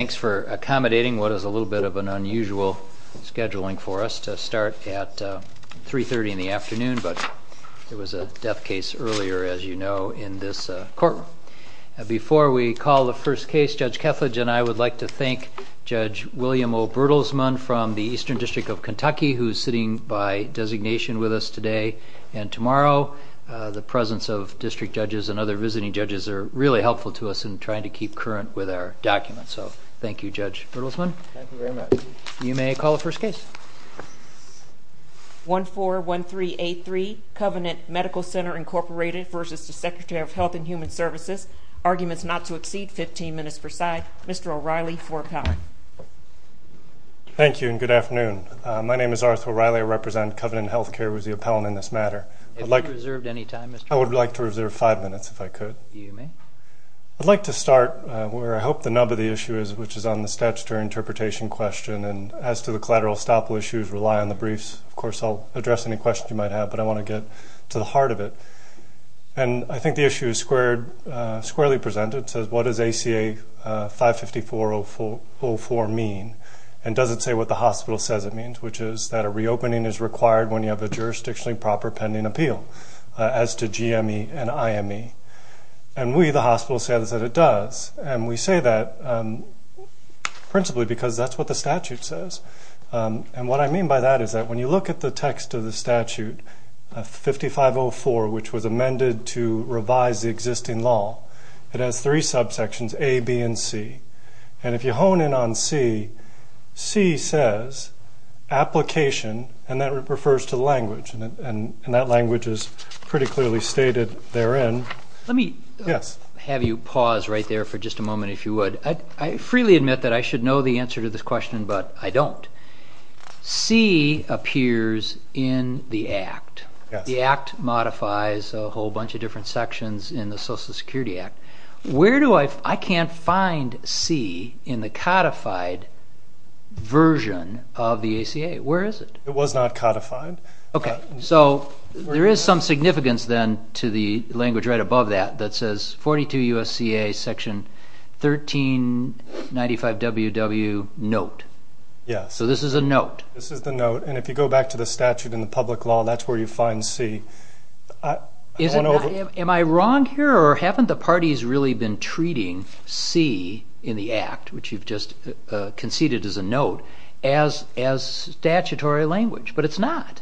Thanks for accommodating what is a little bit of an unusual scheduling for us to start at 3.30 in the afternoon, but there was a death case earlier, as you know, in this courtroom. Before we call the first case, Judge Kethledge and I would like to thank Judge William O. Bertelsmann from the Eastern District of Kentucky, who is sitting by designation with us today and tomorrow. The presence of district judges and other visiting judges are really helpful to us in trying to keep current with our documents, so thank you, Judge Bertelsmann. Thank you very much. You may call the first case. 141383, Covenant Medical Center, Inc. v. Secretary of Health and Human Services. Arguments not to exceed 15 minutes per side. Mr. O'Reilly for appellant. Thank you, and good afternoon. My name is Arthur O'Reilly. I represent Covenant Healthcare as the appellant in this matter. Have you reserved any time, Mr. O'Reilly? I would like to reserve five minutes, if I could. You may. I'd like to start where I hope the nub of the issue is, which is on the statutory interpretation question. And as to the collateral estoppel issues, rely on the briefs. Of course, I'll address any questions you might have, but I want to get to the heart of it. And I think the issue is squarely presented. It says, what does ACA 55404 mean? And does it say what the hospital says it means, which is that a reopening is required when you have a jurisdictionally proper pending appeal, as to GME and IME. And we, the hospital, say that it does. And we say that principally because that's what the statute says. And what I mean by that is that when you look at the text of the statute, 5504, which was amended to revise the existing law, it has three subsections, A, B, and C. And if you hone in on C, C says application, and that refers to language. And that language is pretty clearly stated therein. Let me have you pause right there for just a moment, if you would. I freely admit that I should know the answer to this question, but I don't. C appears in the Act. The Act modifies a whole bunch of different sections in the Social Security Act. Where do I, I can't find C in the codified version of the ACA. Where is it? It was not codified. Okay, so there is some significance then to the language right above that, that says 42 U.S.C.A. section 1395WW note. Yes. So this is a note. This is the note. And if you go back to the statute in the public law, that's where you find C. Am I wrong here, or haven't the parties really been treating C in the Act, which you've just conceded as a note, as statutory language? But it's not.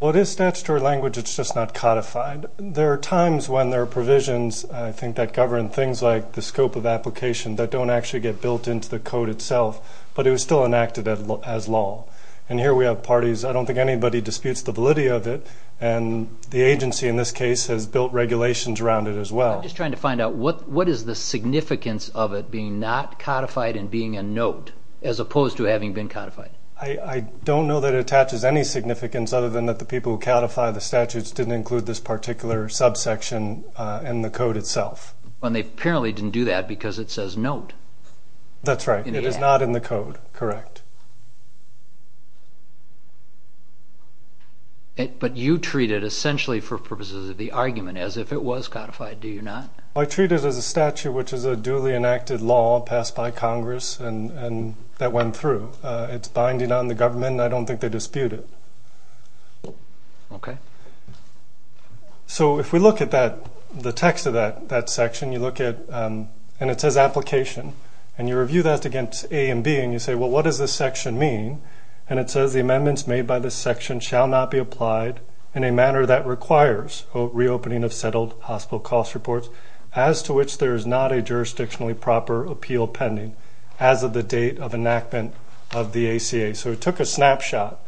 Well, it is statutory language, it's just not codified. There are times when there are provisions, I think, that govern things like the scope of application that don't actually get built into the code itself, but it was still enacted as law. And here we have parties, I don't think anybody disputes the validity of it, and the agency in this case has built regulations around it as well. I'm just trying to find out, what is the significance of it being not codified and being a note, as opposed to having been codified? I don't know that it attaches any significance other than that the people who codify the statutes didn't include this particular subsection in the code itself. Well, they apparently didn't do that because it says note. That's right. It is not in the code, correct. But you treat it essentially for purposes of the argument as if it was codified, do you not? I treat it as a statute which is a duly enacted law passed by Congress that went through. It's binding on the government, and I don't think they dispute it. Okay. So if we look at the text of that section, and it says application, and you review that against A and B, and you say, well, what does this section mean? And it says the amendments made by this section shall not be applied in a manner that requires, quote, reopening of settled hospital cost reports, as to which there is not a jurisdictionally proper appeal pending as of the date of enactment of the ACA. So it took a snapshot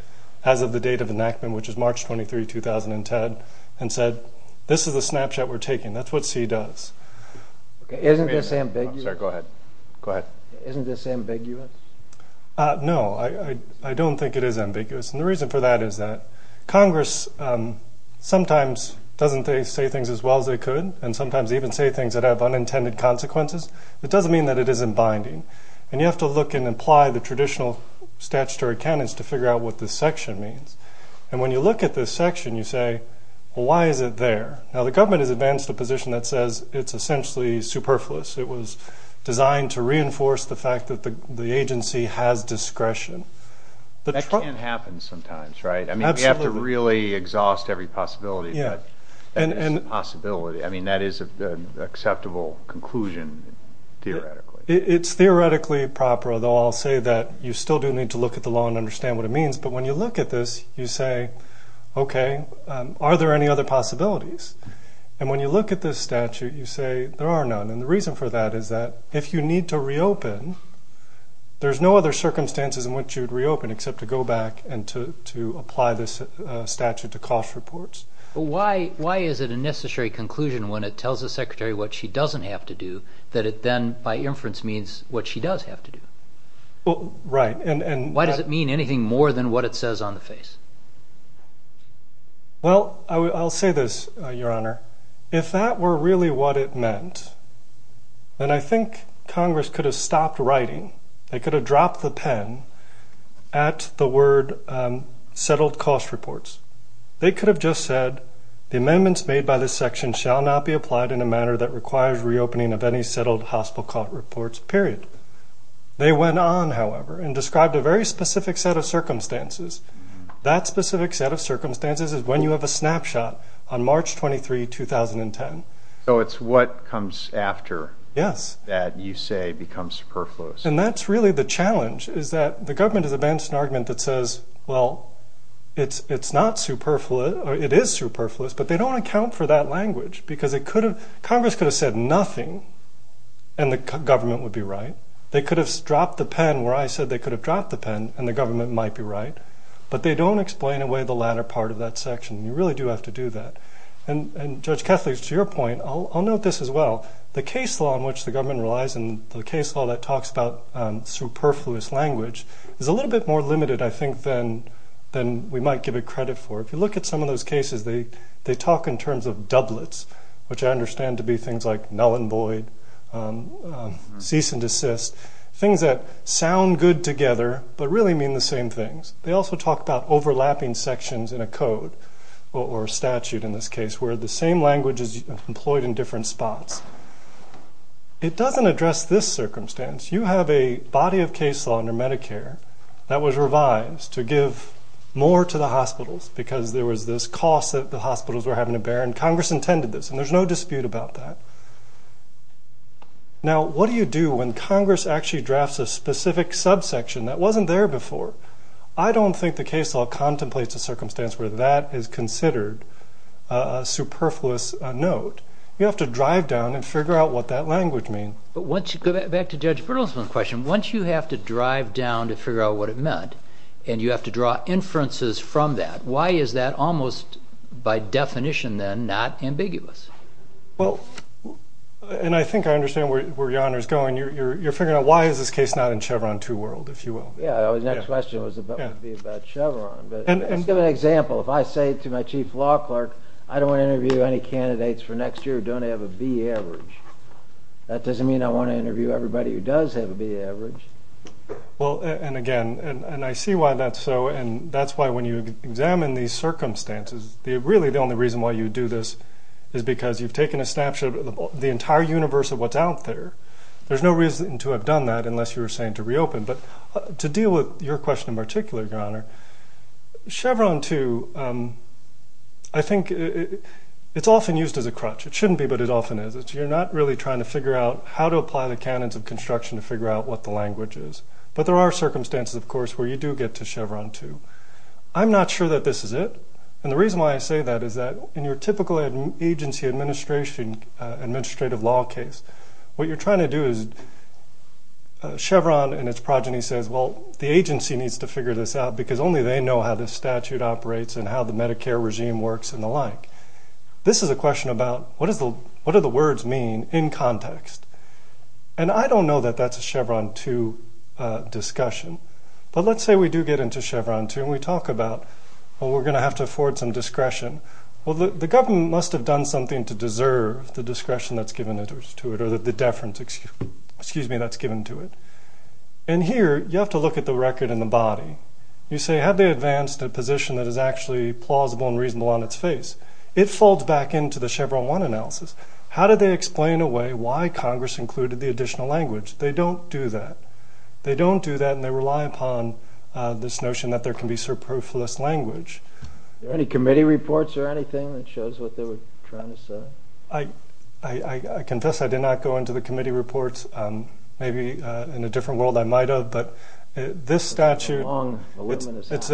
as of the date of enactment, which is March 23, 2010, and said this is a snapshot we're taking. That's what C does. Isn't this ambiguous? Sorry, go ahead. Isn't this ambiguous? No, I don't think it is ambiguous. And the reason for that is that Congress sometimes doesn't say things as well as they could and sometimes even say things that have unintended consequences. It doesn't mean that it isn't binding. And you have to look and apply the traditional statutory canons to figure out what this section means. And when you look at this section, you say, well, why is it there? Now, the government has advanced a position that says it's essentially superfluous. It was designed to reinforce the fact that the agency has discretion. That can happen sometimes, right? Absolutely. I mean, you have to really exhaust every possibility, but that is a possibility. I mean, that is an acceptable conclusion theoretically. It's theoretically proper, though I'll say that you still do need to look at the law and understand what it means. But when you look at this, you say, okay, are there any other possibilities? And when you look at this statute, you say there are none. And the reason for that is that if you need to reopen, there's no other circumstances in which you'd reopen except to go back and to apply this statute to cost reports. Why is it a necessary conclusion when it tells the secretary what she doesn't have to do that it then by inference means what she does have to do? Right. Why does it mean anything more than what it says on the face? Well, I'll say this, Your Honor. If that were really what it meant, then I think Congress could have stopped writing. They could have dropped the pen at the word settled cost reports. They could have just said the amendments made by this section shall not be applied in a manner that requires reopening of any settled hospital cost reports, period. They went on, however, and described a very specific set of circumstances. That specific set of circumstances is when you have a snapshot on March 23, 2010. So it's what comes after that you say becomes superfluous. And that's really the challenge is that the government has advanced an argument that says, well, it's not superfluous or it is superfluous, but they don't account for that language because Congress could have said nothing and the government would be right. They could have dropped the pen where I said they could have dropped the pen and the government might be right, but they don't explain away the latter part of that section. You really do have to do that. And, Judge Kethledge, to your point, I'll note this as well. The case law in which the government relies and the case law that talks about superfluous language is a little bit more limited, I think, than we might give it credit for. If you look at some of those cases, they talk in terms of doublets, which I understand to be things like null and void, cease and desist, things that sound good together but really mean the same things. They also talk about overlapping sections in a code or statute in this case where the same language is employed in different spots. It doesn't address this circumstance. You have a body of case law under Medicare that was revised to give more to the hospitals because there was this cost that the hospitals were having to bear, and Congress intended this, and there's no dispute about that. Now, what do you do when Congress actually drafts a specific subsection that wasn't there before? I don't think the case law contemplates a circumstance where that is considered a superfluous note. You have to drive down and figure out what that language means. But once you go back to Judge Bertelsmann's question, once you have to drive down to figure out what it meant and you have to draw inferences from that, why is that almost, by definition then, not ambiguous? Well, and I think I understand where your honor is going. You're figuring out why is this case not in Chevron 2 World, if you will. Yeah, the next question would be about Chevron. To give an example, if I say to my chief law clerk, I don't want to interview any candidates for next year who don't have a B average, that doesn't mean I want to interview everybody who does have a B average. Well, and again, and I see why that's so, and that's why when you examine these circumstances, really the only reason why you do this is because you've taken a snapshot of the entire universe of what's out there. There's no reason to have done that unless you were saying to reopen. But to deal with your question in particular, your honor, Chevron 2, I think it's often used as a crutch. It shouldn't be, but it often is. You're not really trying to figure out how to apply the canons of construction to figure out what the language is. But there are circumstances, of course, where you do get to Chevron 2. I'm not sure that this is it. And the reason why I say that is that in your typical agency administrative law case, what you're trying to do is Chevron and its progeny says, well, the agency needs to figure this out because only they know how this statute operates and how the Medicare regime works and the like. This is a question about what do the words mean in context? And I don't know that that's a Chevron 2 discussion. But let's say we do get into Chevron 2 and we talk about, well, we're going to have to afford some discretion. Well, the government must have done something to deserve the discretion that's given to it or the deference, excuse me, that's given to it. And here you have to look at the record in the body. You say have they advanced a position that is actually plausible and reasonable on its face? It folds back into the Chevron 1 analysis. How did they explain away why Congress included the additional language? They don't do that. They don't do that and they rely upon this notion that there can be superfluous language. Any committee reports or anything that shows what they were trying to say? I confess I did not go into the committee reports. Maybe in a different world I might have, but this statute, it's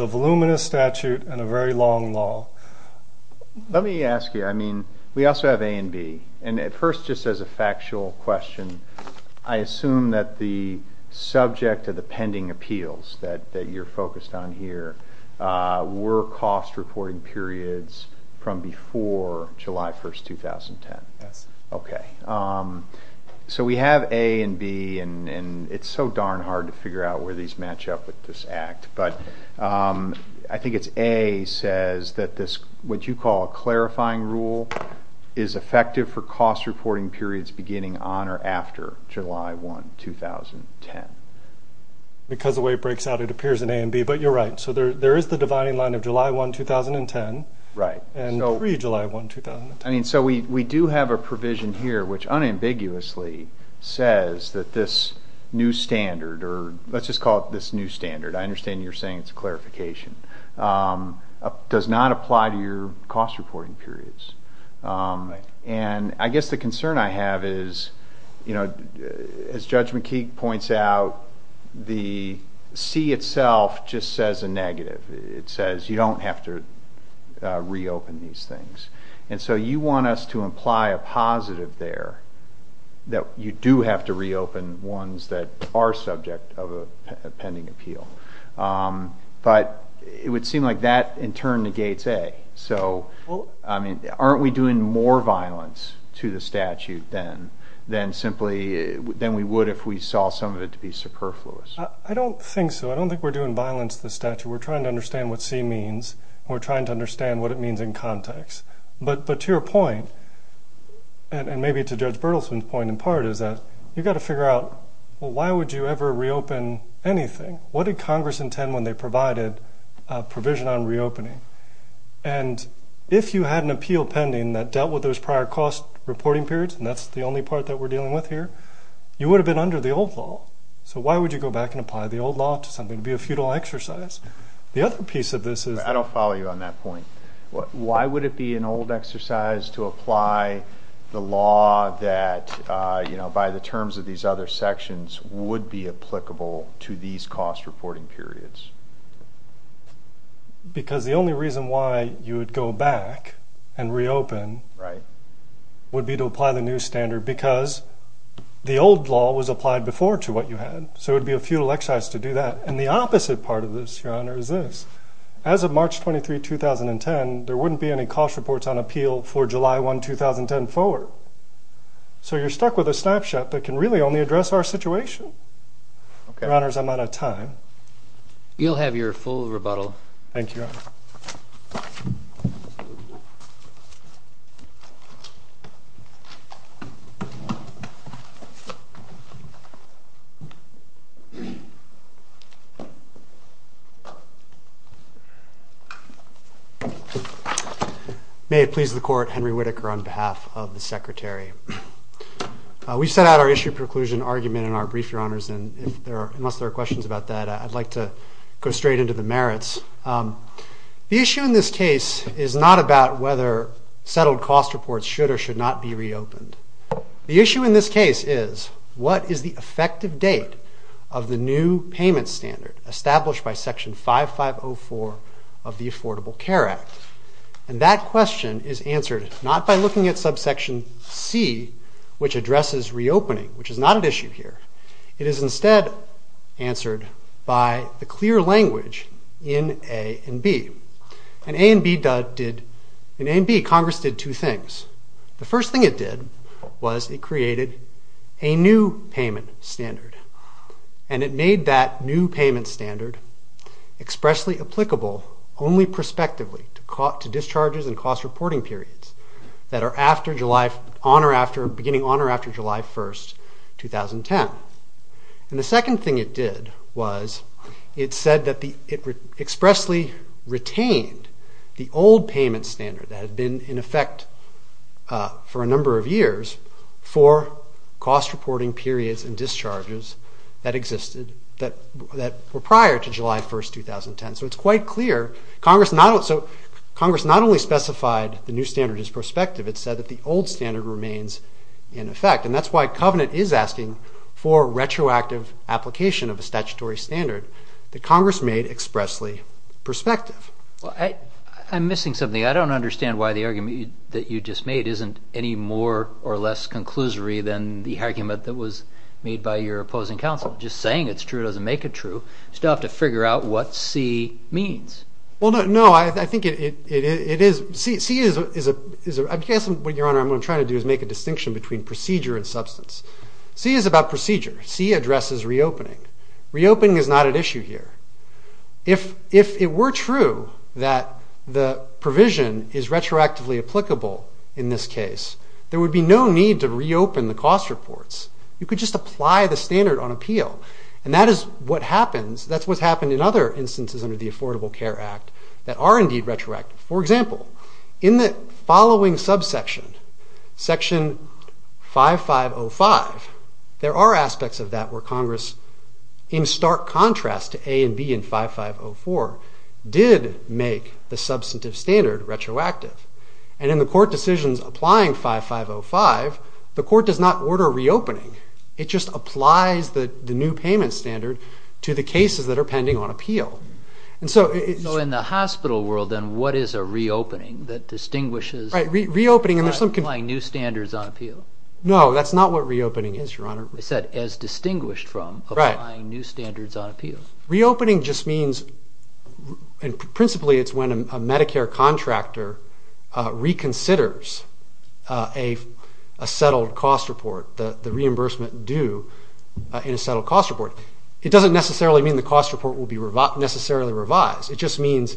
a voluminous statute and a very long law. Let me ask you, I mean, we also have A and B. And at first, just as a factual question, I assume that the subject of the pending appeals that you're focused on here were cost reporting periods from before July 1, 2010. Yes. Okay. So we have A and B, and it's so darn hard to figure out where these match up with this act. But I think it's A says that this, what you call a clarifying rule, is effective for cost reporting periods beginning on or after July 1, 2010. Because the way it breaks out, it appears in A and B. But you're right. So there is the dividing line of July 1, 2010 and pre-July 1, 2010. I mean, so we do have a provision here which unambiguously says that this new standard, or let's just call it this new standard. I understand you're saying it's a clarification. It does not apply to your cost reporting periods. And I guess the concern I have is, you know, as Judge McKeague points out, the C itself just says a negative. It says you don't have to reopen these things. And so you want us to imply a positive there, that you do have to reopen ones that are subject of a pending appeal. But it would seem like that in turn negates A. So, I mean, aren't we doing more violence to the statute than simply, than we would if we saw some of it to be superfluous? I don't think so. I don't think we're doing violence to the statute. We're trying to understand what C means, and we're trying to understand what it means in context. But to your point, and maybe to Judge Berthelsen's point in part, is that you've got to figure out, well, why would you ever reopen anything? What did Congress intend when they provided a provision on reopening? And if you had an appeal pending that dealt with those prior cost reporting periods, and that's the only part that we're dealing with here, you would have been under the old law. So why would you go back and apply the old law to something that would be a futile exercise? The other piece of this is... I don't follow you on that point. Why would it be an old exercise to apply the law that, you know, by the terms of these other sections, would be applicable to these cost reporting periods? Because the only reason why you would go back and reopen... Right. ...would be to apply the new standard because the old law was applied before to what you had. So it would be a futile exercise to do that. And the opposite part of this, Your Honor, is this. As of March 23, 2010, there wouldn't be any cost reports on appeal for July 1, 2010 forward. So you're stuck with a snapshot that can really only address our situation. Your Honors, I'm out of time. Thank you, Your Honor. Thank you. May it please the Court, Henry Whitaker on behalf of the Secretary. We set out our issue preclusion argument in our brief, Your Honors, and unless there are questions about that, I'd like to go straight into the merits. The issue in this case is not about whether settled cost reports should or should not be reopened. The issue in this case is what is the effective date of the new payment standard established by Section 5504 of the Affordable Care Act? And that question is answered not by looking at subsection C, which addresses reopening, which is not at issue here. It is instead answered by the clear language in A and B. In A and B, Congress did two things. The first thing it did was it created a new payment standard. And it made that new payment standard expressly applicable only prospectively to discharges and cost reporting periods that are beginning on or after July 1, 2010. And the second thing it did was it said that it expressly retained the old payment standard that had been in effect for a number of years for cost reporting periods and discharges that existed that were prior to July 1, 2010. So it's quite clear. Congress not only specified the new standard is prospective. It said that the old standard remains in effect. And that's why Covenant is asking for retroactive application of a statutory standard that Congress made expressly prospective. I'm missing something. I don't understand why the argument that you just made isn't any more or less conclusory than the argument that was made by your opposing counsel. Just saying it's true doesn't make it true. You still have to figure out what C means. Well, no. I think it is. C is a – I guess what, Your Honor, I'm trying to do is make a distinction between procedure and substance. C is about procedure. C addresses reopening. Reopening is not at issue here. If it were true that the provision is retroactively applicable in this case, there would be no need to reopen the cost reports. You could just apply the standard on appeal. And that is what happens – that's what's happened in other instances under the Affordable Care Act that are indeed retroactive. For example, in the following subsection, Section 5505, there are aspects of that where Congress, in stark contrast to A and B in 5504, did make the substantive standard retroactive. And in the court decisions applying 5505, the court does not order reopening. It just applies the new payment standard to the cases that are pending on appeal. So in the hospital world, then, what is a reopening that distinguishes – Right. Reopening – Applying new standards on appeal. No, that's not what reopening is, Your Honor. It's that as distinguished from applying new standards on appeal. Reopening just means – and principally it's when a Medicare contractor reconsiders a settled cost report, the reimbursement due in a settled cost report. It doesn't necessarily mean the cost report will be necessarily revised. It just means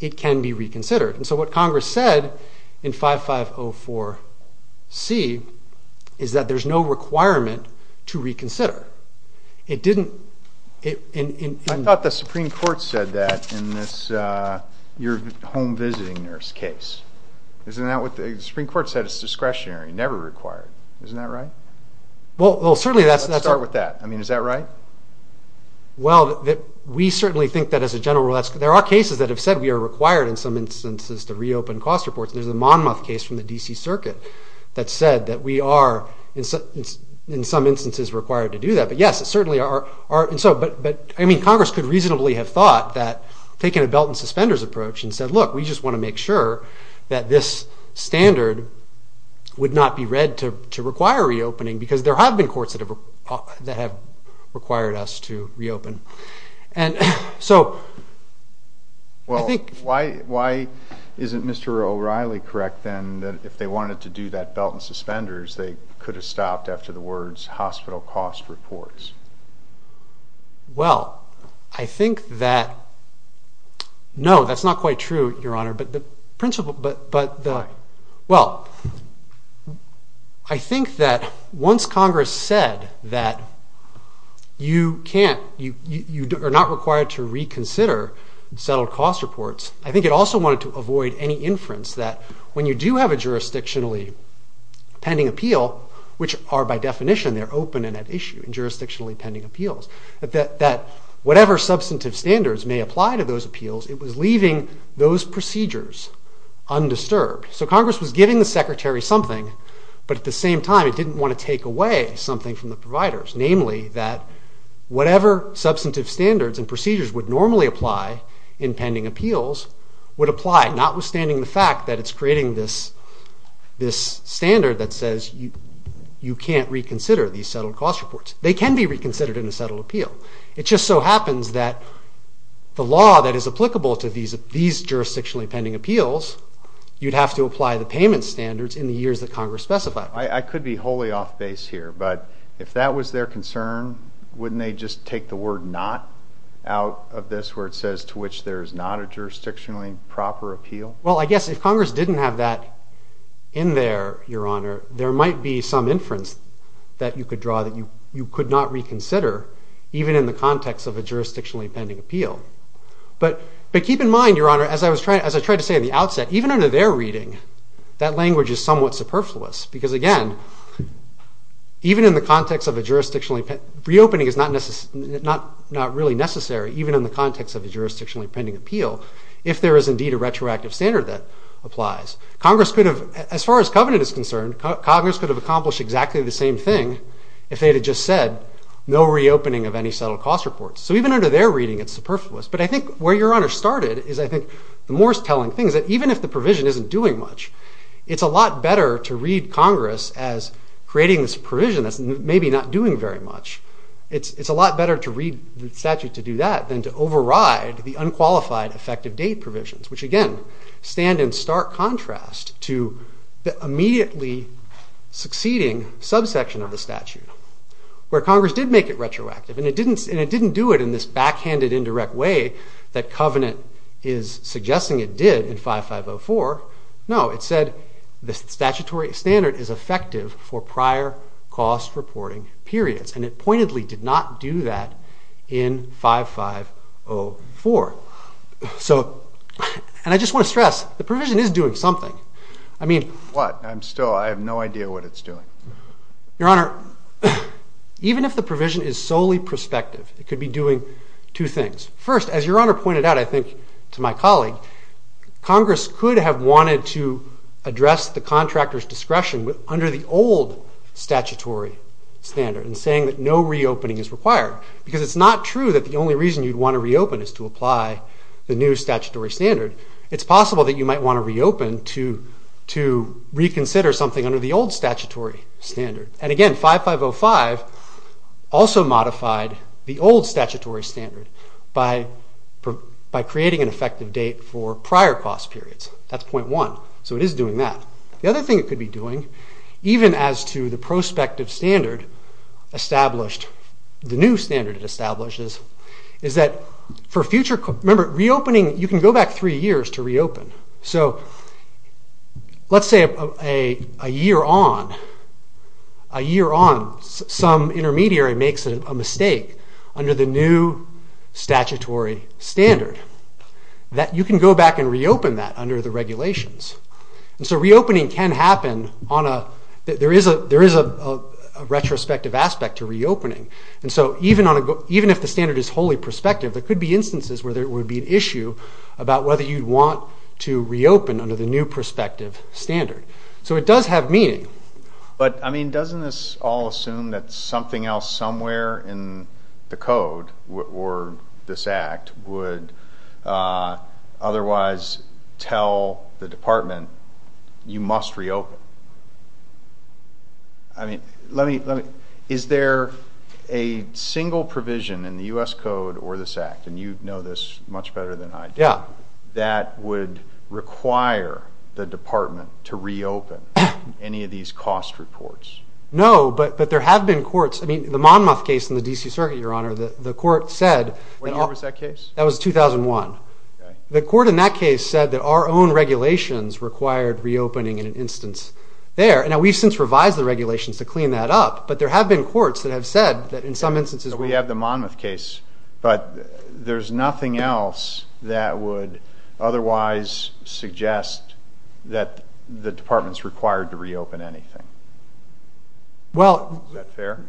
it can be reconsidered. And so what Congress said in 5504C is that there's no requirement to reconsider. It didn't – I thought the Supreme Court said that in this – your home visiting nurse case. Isn't that what – the Supreme Court said it's discretionary, never required. Isn't that right? Well, certainly that's – Let's start with that. I mean, is that right? Well, we certainly think that as a general rule that's – there are cases that have said we are required in some instances to reopen cost reports. There's the Monmouth case from the D.C. Circuit that said that we are in some instances required to do that. But, yes, it certainly are – and so – but, I mean, Congress could reasonably have thought that taking a belt and suspenders approach and said, look, we just want to make sure that this standard would not be read to require reopening because there have been courts that have required us to reopen. And so I think – Well, I think that – no, that's not quite true, Your Honor, but the principle – but the – well, I think that once Congress said that you can't – you are not required to reconsider settled cost reports, I think it also wanted to avoid any inference that, when you do have a jurisdictionally pending appeal, which are by definition they're open and at issue in jurisdictionally pending appeals, that whatever substantive standards may apply to those appeals, it was leaving those procedures undisturbed. So Congress was giving the Secretary something, but at the same time it didn't want to take away something from the providers, namely that whatever substantive standards and procedures would normally apply in pending appeals would apply, notwithstanding the fact that it's creating this standard that says you can't reconsider these settled cost reports. They can be reconsidered in a settled appeal. It just so happens that the law that is applicable to these jurisdictionally pending appeals, you'd have to apply the payment standards in the years that Congress specified. I could be wholly off base here, but if that was their concern, wouldn't they just take the word not out of this, where it says to which there is not a jurisdictionally proper appeal? Well, I guess if Congress didn't have that in there, Your Honor, there might be some inference that you could draw that you could not reconsider, even in the context of a jurisdictionally pending appeal. But keep in mind, Your Honor, as I tried to say at the outset, even under their reading, that language is somewhat superfluous because, again, even in the context of a jurisdictionally – reopening is not really necessary, even in the context of a jurisdictionally pending appeal, if there is indeed a retroactive standard that applies. Congress could have – as far as covenant is concerned, Congress could have accomplished exactly the same thing if they had just said no reopening of any settled cost reports. So even under their reading, it's superfluous. But I think where Your Honor started is, I think, the most telling thing, is that even if the provision isn't doing much, it's a lot better to read Congress as creating this provision that's maybe not doing very much. It's a lot better to read the statute to do that than to override the unqualified effective date provisions, which, again, stand in stark contrast to the immediately succeeding subsection of the statute, where Congress did make it retroactive, and it didn't do it in this backhanded, indirect way that covenant is suggesting it did in 5504. No, it said the statutory standard is effective for prior cost reporting periods, and it pointedly did not do that in 5504. So – and I just want to stress, the provision is doing something. I mean – What? I'm still – I have no idea what it's doing. Your Honor, even if the provision is solely prospective, it could be doing two things. First, as Your Honor pointed out, I think, to my colleague, Congress could have wanted to address the contractor's discretion under the old statutory standard in saying that no reopening is required, because it's not true that the only reason you'd want to reopen is to apply the new statutory standard. It's possible that you might want to reopen to reconsider something under the old statutory standard. And again, 5505 also modified the old statutory standard by creating an effective date for prior cost periods. That's point one. So it is doing that. The other thing it could be doing, even as to the prospective standard established, the new standard it establishes, is that for future – remember, reopening – you can go back three years to reopen. So let's say a year on, a year on, some intermediary makes a mistake under the new statutory standard, that you can go back and reopen that under the regulations. And so reopening can happen on a – there is a retrospective aspect to reopening. And so even if the standard is wholly prospective, there could be instances where there would be an issue about whether you'd want to reopen under the new prospective standard. So it does have meaning. But, I mean, doesn't this all assume that something else somewhere in the code or this act would otherwise tell the department you must reopen? I mean, let me – is there a single provision in the U.S. Code or this act – and you know this much better than I do – that would require the department to reopen any of these cost reports? No, but there have been courts – I mean, the Monmouth case in the D.C. Circuit, Your Honor, the court said – What year was that case? That was 2001. The court in that case said that our own regulations required reopening in an instance there. Now, we've since revised the regulations to clean that up, but there have been courts that have said that in some instances – We have the Monmouth case, but there's nothing else that would otherwise suggest that the department's required to reopen anything. Is that fair?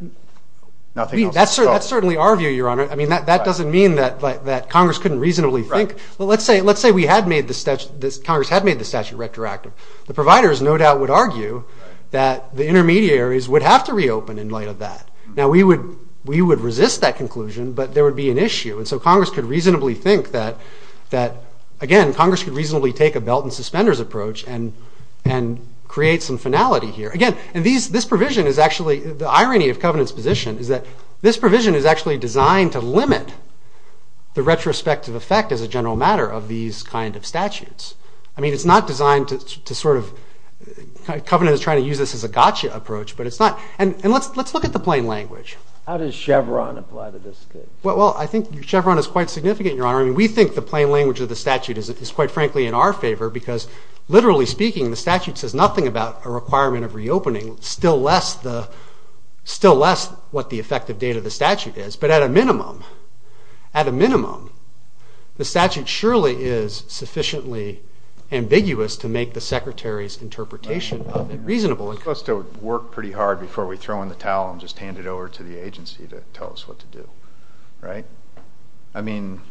That's certainly our view, Your Honor. I mean, that doesn't mean that Congress couldn't reasonably think – well, let's say Congress had made the statute retroactive. The providers no doubt would argue that the intermediaries would have to reopen in light of that. Now, we would resist that conclusion, but there would be an issue, and so Congress could reasonably think that – again, Congress could reasonably take a belt-and-suspenders approach and create some finality here. Again, this provision is actually – the irony of Covenant's position is that this provision is actually designed to limit the retrospective effect, as a general matter, of these kind of statutes. I mean, it's not designed to sort of – Covenant is trying to use this as a gotcha approach, but it's not – and let's look at the plain language. How does Chevron apply to this case? Well, I think Chevron is quite significant, Your Honor. I mean, we think the plain language of the statute is quite frankly in our favor because literally speaking, the statute says nothing about a requirement of reopening, still less what the effective date of the statute is. But at a minimum, at a minimum, the statute surely is sufficiently ambiguous to make the Secretary's interpretation of it reasonable. We're supposed to work pretty hard before we throw in the towel and just hand it over to the agency to tell us what to do, right? I mean,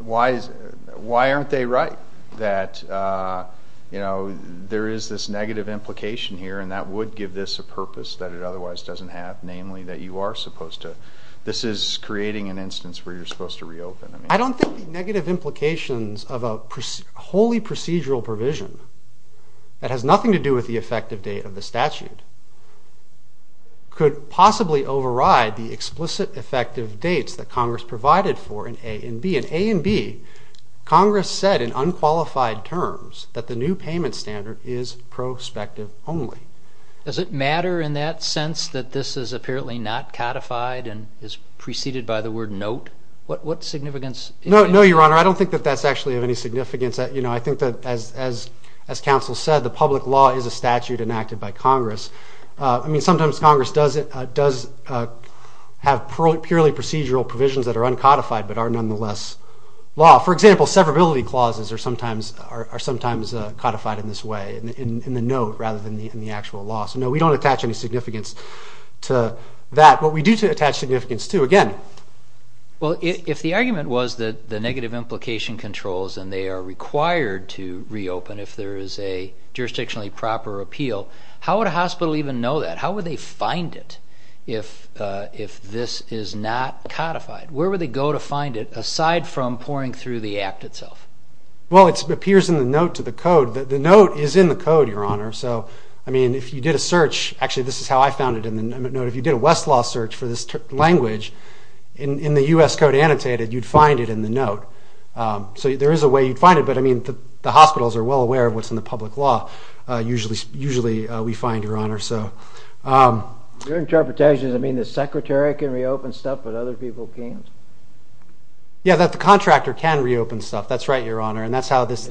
why aren't they right that there is this negative implication here and that would give this a purpose that it otherwise doesn't have, namely that you are supposed to – this is creating an instance where you're supposed to reopen. I don't think the negative implications of a wholly procedural provision that has nothing to do with the effective date of the statute could possibly override the explicit effective dates that Congress provided for in A and B. In A and B, Congress said in unqualified terms that the new payment standard is prospective only. Does it matter in that sense that this is apparently not codified and is preceded by the word note? What significance is there? No, Your Honor, I don't think that that's actually of any significance. I think that, as counsel said, the public law is a statute enacted by Congress. I mean, sometimes Congress does have purely procedural provisions that are uncodified but are nonetheless law. For example, severability clauses are sometimes codified in this way, in the note rather than in the actual law. So no, we don't attach any significance to that. But we do attach significance to, again – Well, if the argument was that the negative implication controls and they are required to reopen if there is a jurisdictionally proper appeal, how would a hospital even know that? How would they find it if this is not codified? Where would they go to find it aside from poring through the Act itself? Well, it appears in the note to the Code. The note is in the Code, Your Honor. So, I mean, if you did a search – actually, this is how I found it in the note. If you did a Westlaw search for this language in the U.S. Code annotated, you'd find it in the note. So there is a way you'd find it. But, I mean, the hospitals are well aware of what's in the public law. Usually we find, Your Honor. Your interpretation is, I mean, the Secretary can reopen stuff but other people can't? Yeah, that the contractor can reopen stuff. That's right, Your Honor, and that's how this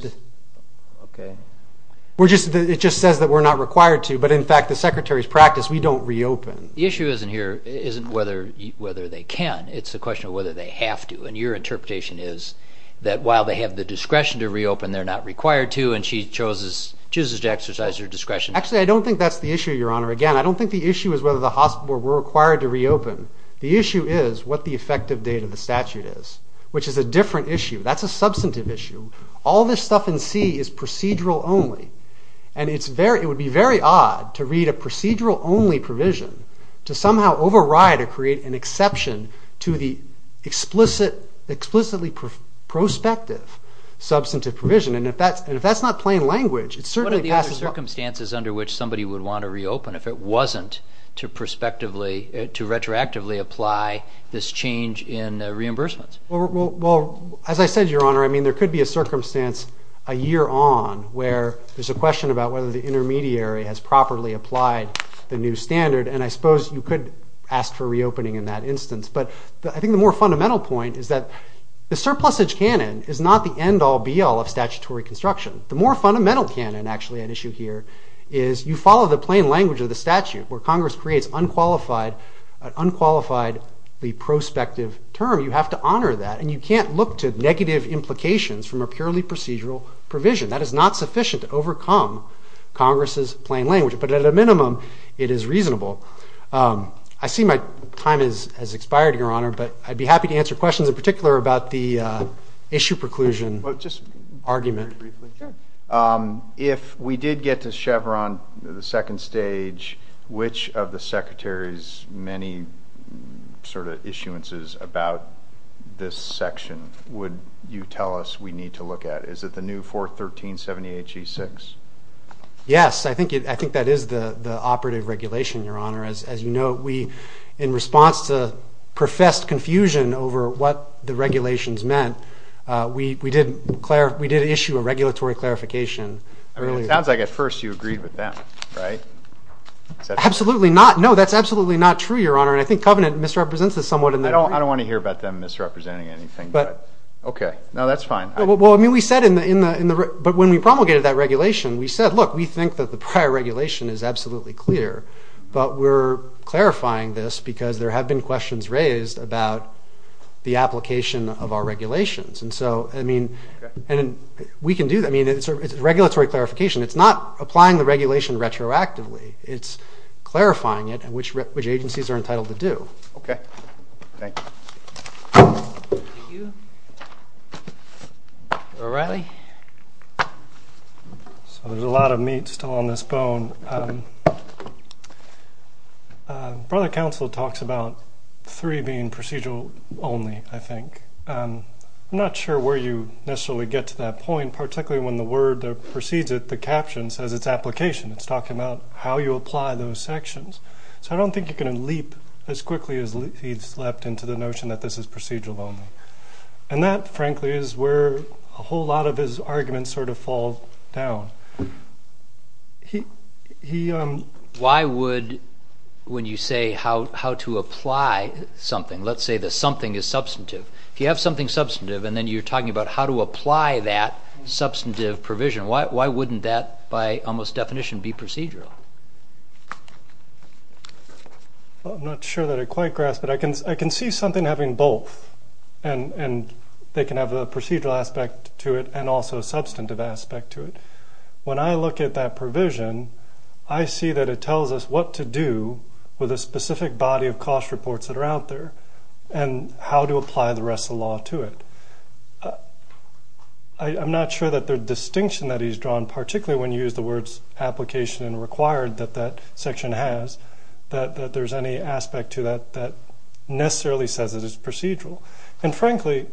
– Okay. It just says that we're not required to. But, in fact, the Secretary's practice, we don't reopen. The issue isn't whether they can. It's the question of whether they have to. And your interpretation is that while they have the discretion to reopen, they're not required to, and she chooses to exercise her discretion. Actually, I don't think that's the issue, Your Honor. Again, I don't think the issue is whether the hospitals were required to reopen. The issue is what the effective date of the statute is, which is a different issue. That's a substantive issue. All this stuff in C is procedural only, and it would be very odd to read a procedural only provision to somehow override or create an exception to the explicitly prospective substantive provision. And if that's not plain language, it certainly passes – What are the other circumstances under which somebody would want to reopen if it wasn't to retrospectively apply this change in reimbursements? Well, as I said, Your Honor, I mean, there could be a circumstance a year on where there's a question about whether the intermediary has properly applied the new standard, and I suppose you could ask for reopening in that instance. But I think the more fundamental point is that the surplusage canon is not the end-all, be-all of statutory construction. The more fundamental canon actually at issue here is you follow the plain language of the statute where Congress creates an unqualifiedly prospective term. You have to honor that, and you can't look to negative implications from a purely procedural provision. That is not sufficient to overcome Congress's plain language. But at a minimum, it is reasonable. I see my time has expired, Your Honor, but I'd be happy to answer questions in particular about the issue preclusion argument. If we did get to Chevron, the second stage, which of the Secretary's many sort of issuances about this section would you tell us we need to look at? Is it the new 41378G6? Yes. I think that is the operative regulation, Your Honor. As you know, in response to professed confusion over what the regulations meant, we did issue a regulatory clarification. It sounds like at first you agreed with them, right? Absolutely not. No, that's absolutely not true, Your Honor, and I think Covenant misrepresents this somewhat in that agreement. I don't want to hear about them misrepresenting anything. Okay. No, that's fine. But when we promulgated that regulation, we said, look, we think that the prior regulation is absolutely clear, but we're clarifying this because there have been questions raised about the application of our regulations. And so, I mean, we can do that. I mean, it's a regulatory clarification. It's not applying the regulation retroactively. It's clarifying it and which agencies are entitled to do. Okay. Thank you. Thank you. Mr. O'Reilly. So there's a lot of meat still on this bone. Brother Counsel talks about three being procedural only, I think. I'm not sure where you necessarily get to that point, particularly when the word that precedes it, the caption, says it's application. It's talking about how you apply those sections. So I don't think you're going to leap as quickly as he's leapt into the notion that this is procedural only. And that, frankly, is where a whole lot of his arguments sort of fall down. Why would, when you say how to apply something, let's say that something is substantive, if you have something substantive and then you're talking about how to apply that substantive provision, why wouldn't that, by almost definition, be procedural? I'm not sure that I quite grasp it. I can see something having both, and they can have a procedural aspect to it and also a substantive aspect to it. When I look at that provision, I see that it tells us what to do with a specific body of cost reports that are out there and how to apply the rest of the law to it. I'm not sure that the distinction that he's drawn, particularly when you use the words application and required that that section has, that there's any aspect to that that necessarily says that it's procedural. And, frankly,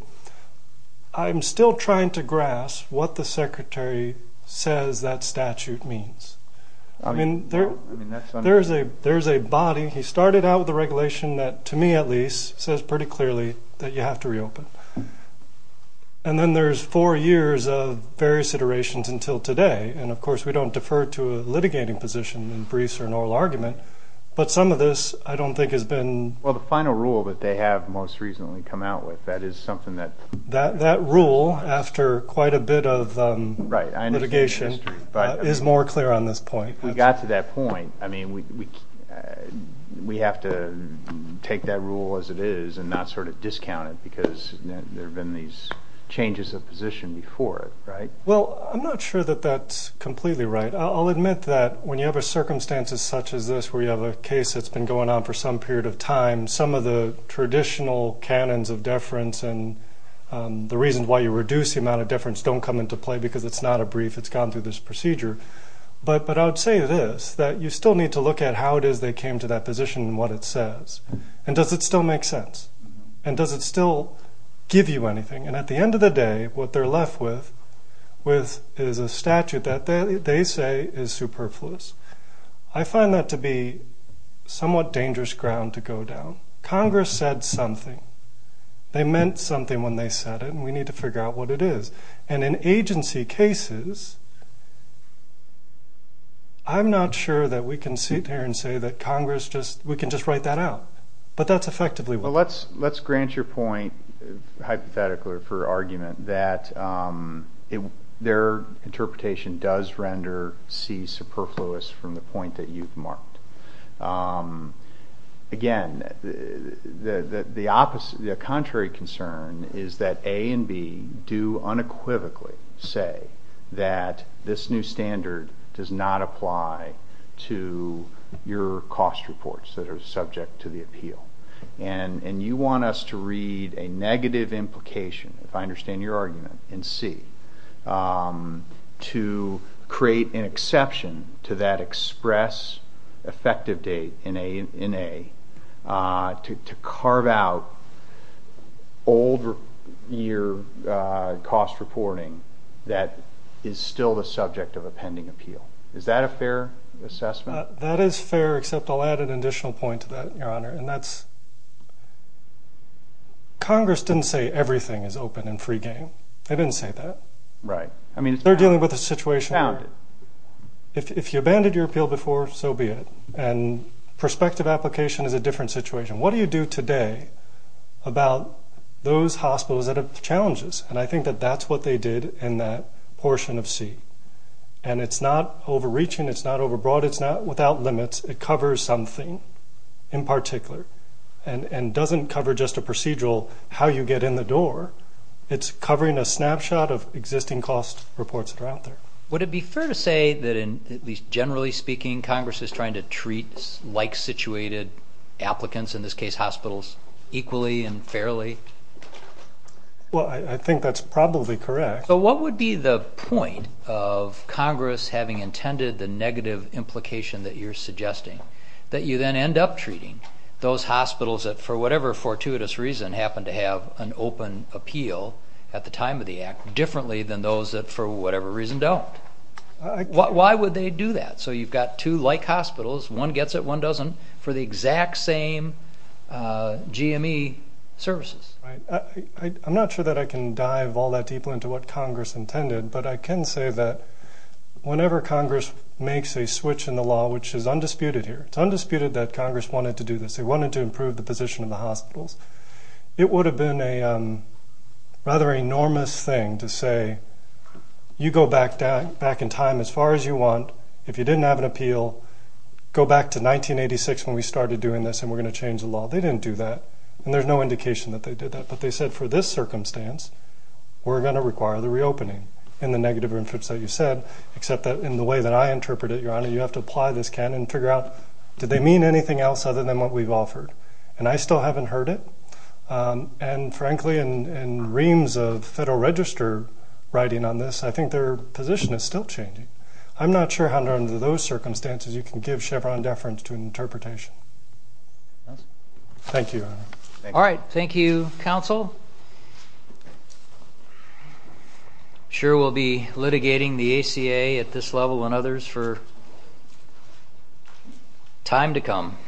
I'm still trying to grasp what the Secretary says that statute means. I mean, there's a body. He started out with a regulation that, to me at least, says pretty clearly that you have to reopen. And then there's four years of various iterations until today, and, of course, we don't defer to a litigating position in briefs or an oral argument, but some of this I don't think has been. Well, the final rule that they have most recently come out with, that is something that... That rule, after quite a bit of litigation, is more clear on this point. If we got to that point, I mean, we have to take that rule as it is and not sort of discount it because there have been these changes of position before it, right? Well, I'm not sure that that's completely right. I'll admit that when you have a circumstance such as this where you have a case that's been going on for some period of time, some of the traditional canons of deference and the reasons why you reduce the amount of deference don't come into play because it's not a brief, it's gone through this procedure. But I would say this, that you still need to look at how it is they came to that position and what it says. And does it still make sense? And does it still give you anything? And at the end of the day, what they're left with is a statute that they say is superfluous. I find that to be somewhat dangerous ground to go down. Congress said something. They meant something when they said it, and we need to figure out what it is. And in agency cases, I'm not sure that we can sit here and say that Congress just, we can just write that out. But that's effectively what it is. Well, let's grant your point, hypothetically or for argument, that their interpretation does render C superfluous from the point that you've marked. Again, the contrary concern is that A and B do unequivocally say that this new standard does not apply to your cost reports that are subject to the appeal. And you want us to read a negative implication, if I understand your argument, in C, to create an exception to that express effective date in A, to carve out old year cost reporting that is still the subject of a pending appeal. Is that a fair assessment? That is fair, except I'll add an additional point to that, Your Honor. And that's Congress didn't say everything is open and free game. They didn't say that. Right. They're dealing with a situation where if you abandoned your appeal before, so be it. And prospective application is a different situation. What do you do today about those hospitals that have challenges? And I think that that's what they did in that portion of C. And it's not overreaching. It's not overbroad. It's not without limits. It covers something in particular and doesn't cover just a procedural how you get in the door. It's covering a snapshot of existing cost reports that are out there. Would it be fair to say that, at least generally speaking, Congress is trying to treat like-situated applicants, in this case hospitals, equally and fairly? Well, I think that's probably correct. But what would be the point of Congress having intended the negative implication that you're suggesting, that you then end up treating those hospitals that, for whatever fortuitous reason, happen to have an open appeal at the time of the act differently than those that, for whatever reason, don't? Why would they do that? So you've got two like hospitals. One gets it, one doesn't, for the exact same GME services. I'm not sure that I can dive all that deeply into what Congress intended, but I can say that whenever Congress makes a switch in the law, which is undisputed here, it's undisputed that Congress wanted to do this. They wanted to improve the position of the hospitals. It would have been a rather enormous thing to say, you go back in time as far as you want, if you didn't have an appeal, go back to 1986 when we started doing this and we're going to change the law. They didn't do that, and there's no indication that they did that. But they said, for this circumstance, we're going to require the reopening in the negative inference that you said, except that in the way that I interpret it, Your Honor, you have to apply this canon and figure out, did they mean anything else other than what we've offered? And I still haven't heard it. And frankly, in reams of Federal Register writing on this, I think their position is still changing. I'm not sure how under those circumstances you can give Chevron deference to an interpretation. Thank you, Your Honor. All right. Thank you, counsel. I'm sure we'll be litigating the ACA at this level and others for time to come.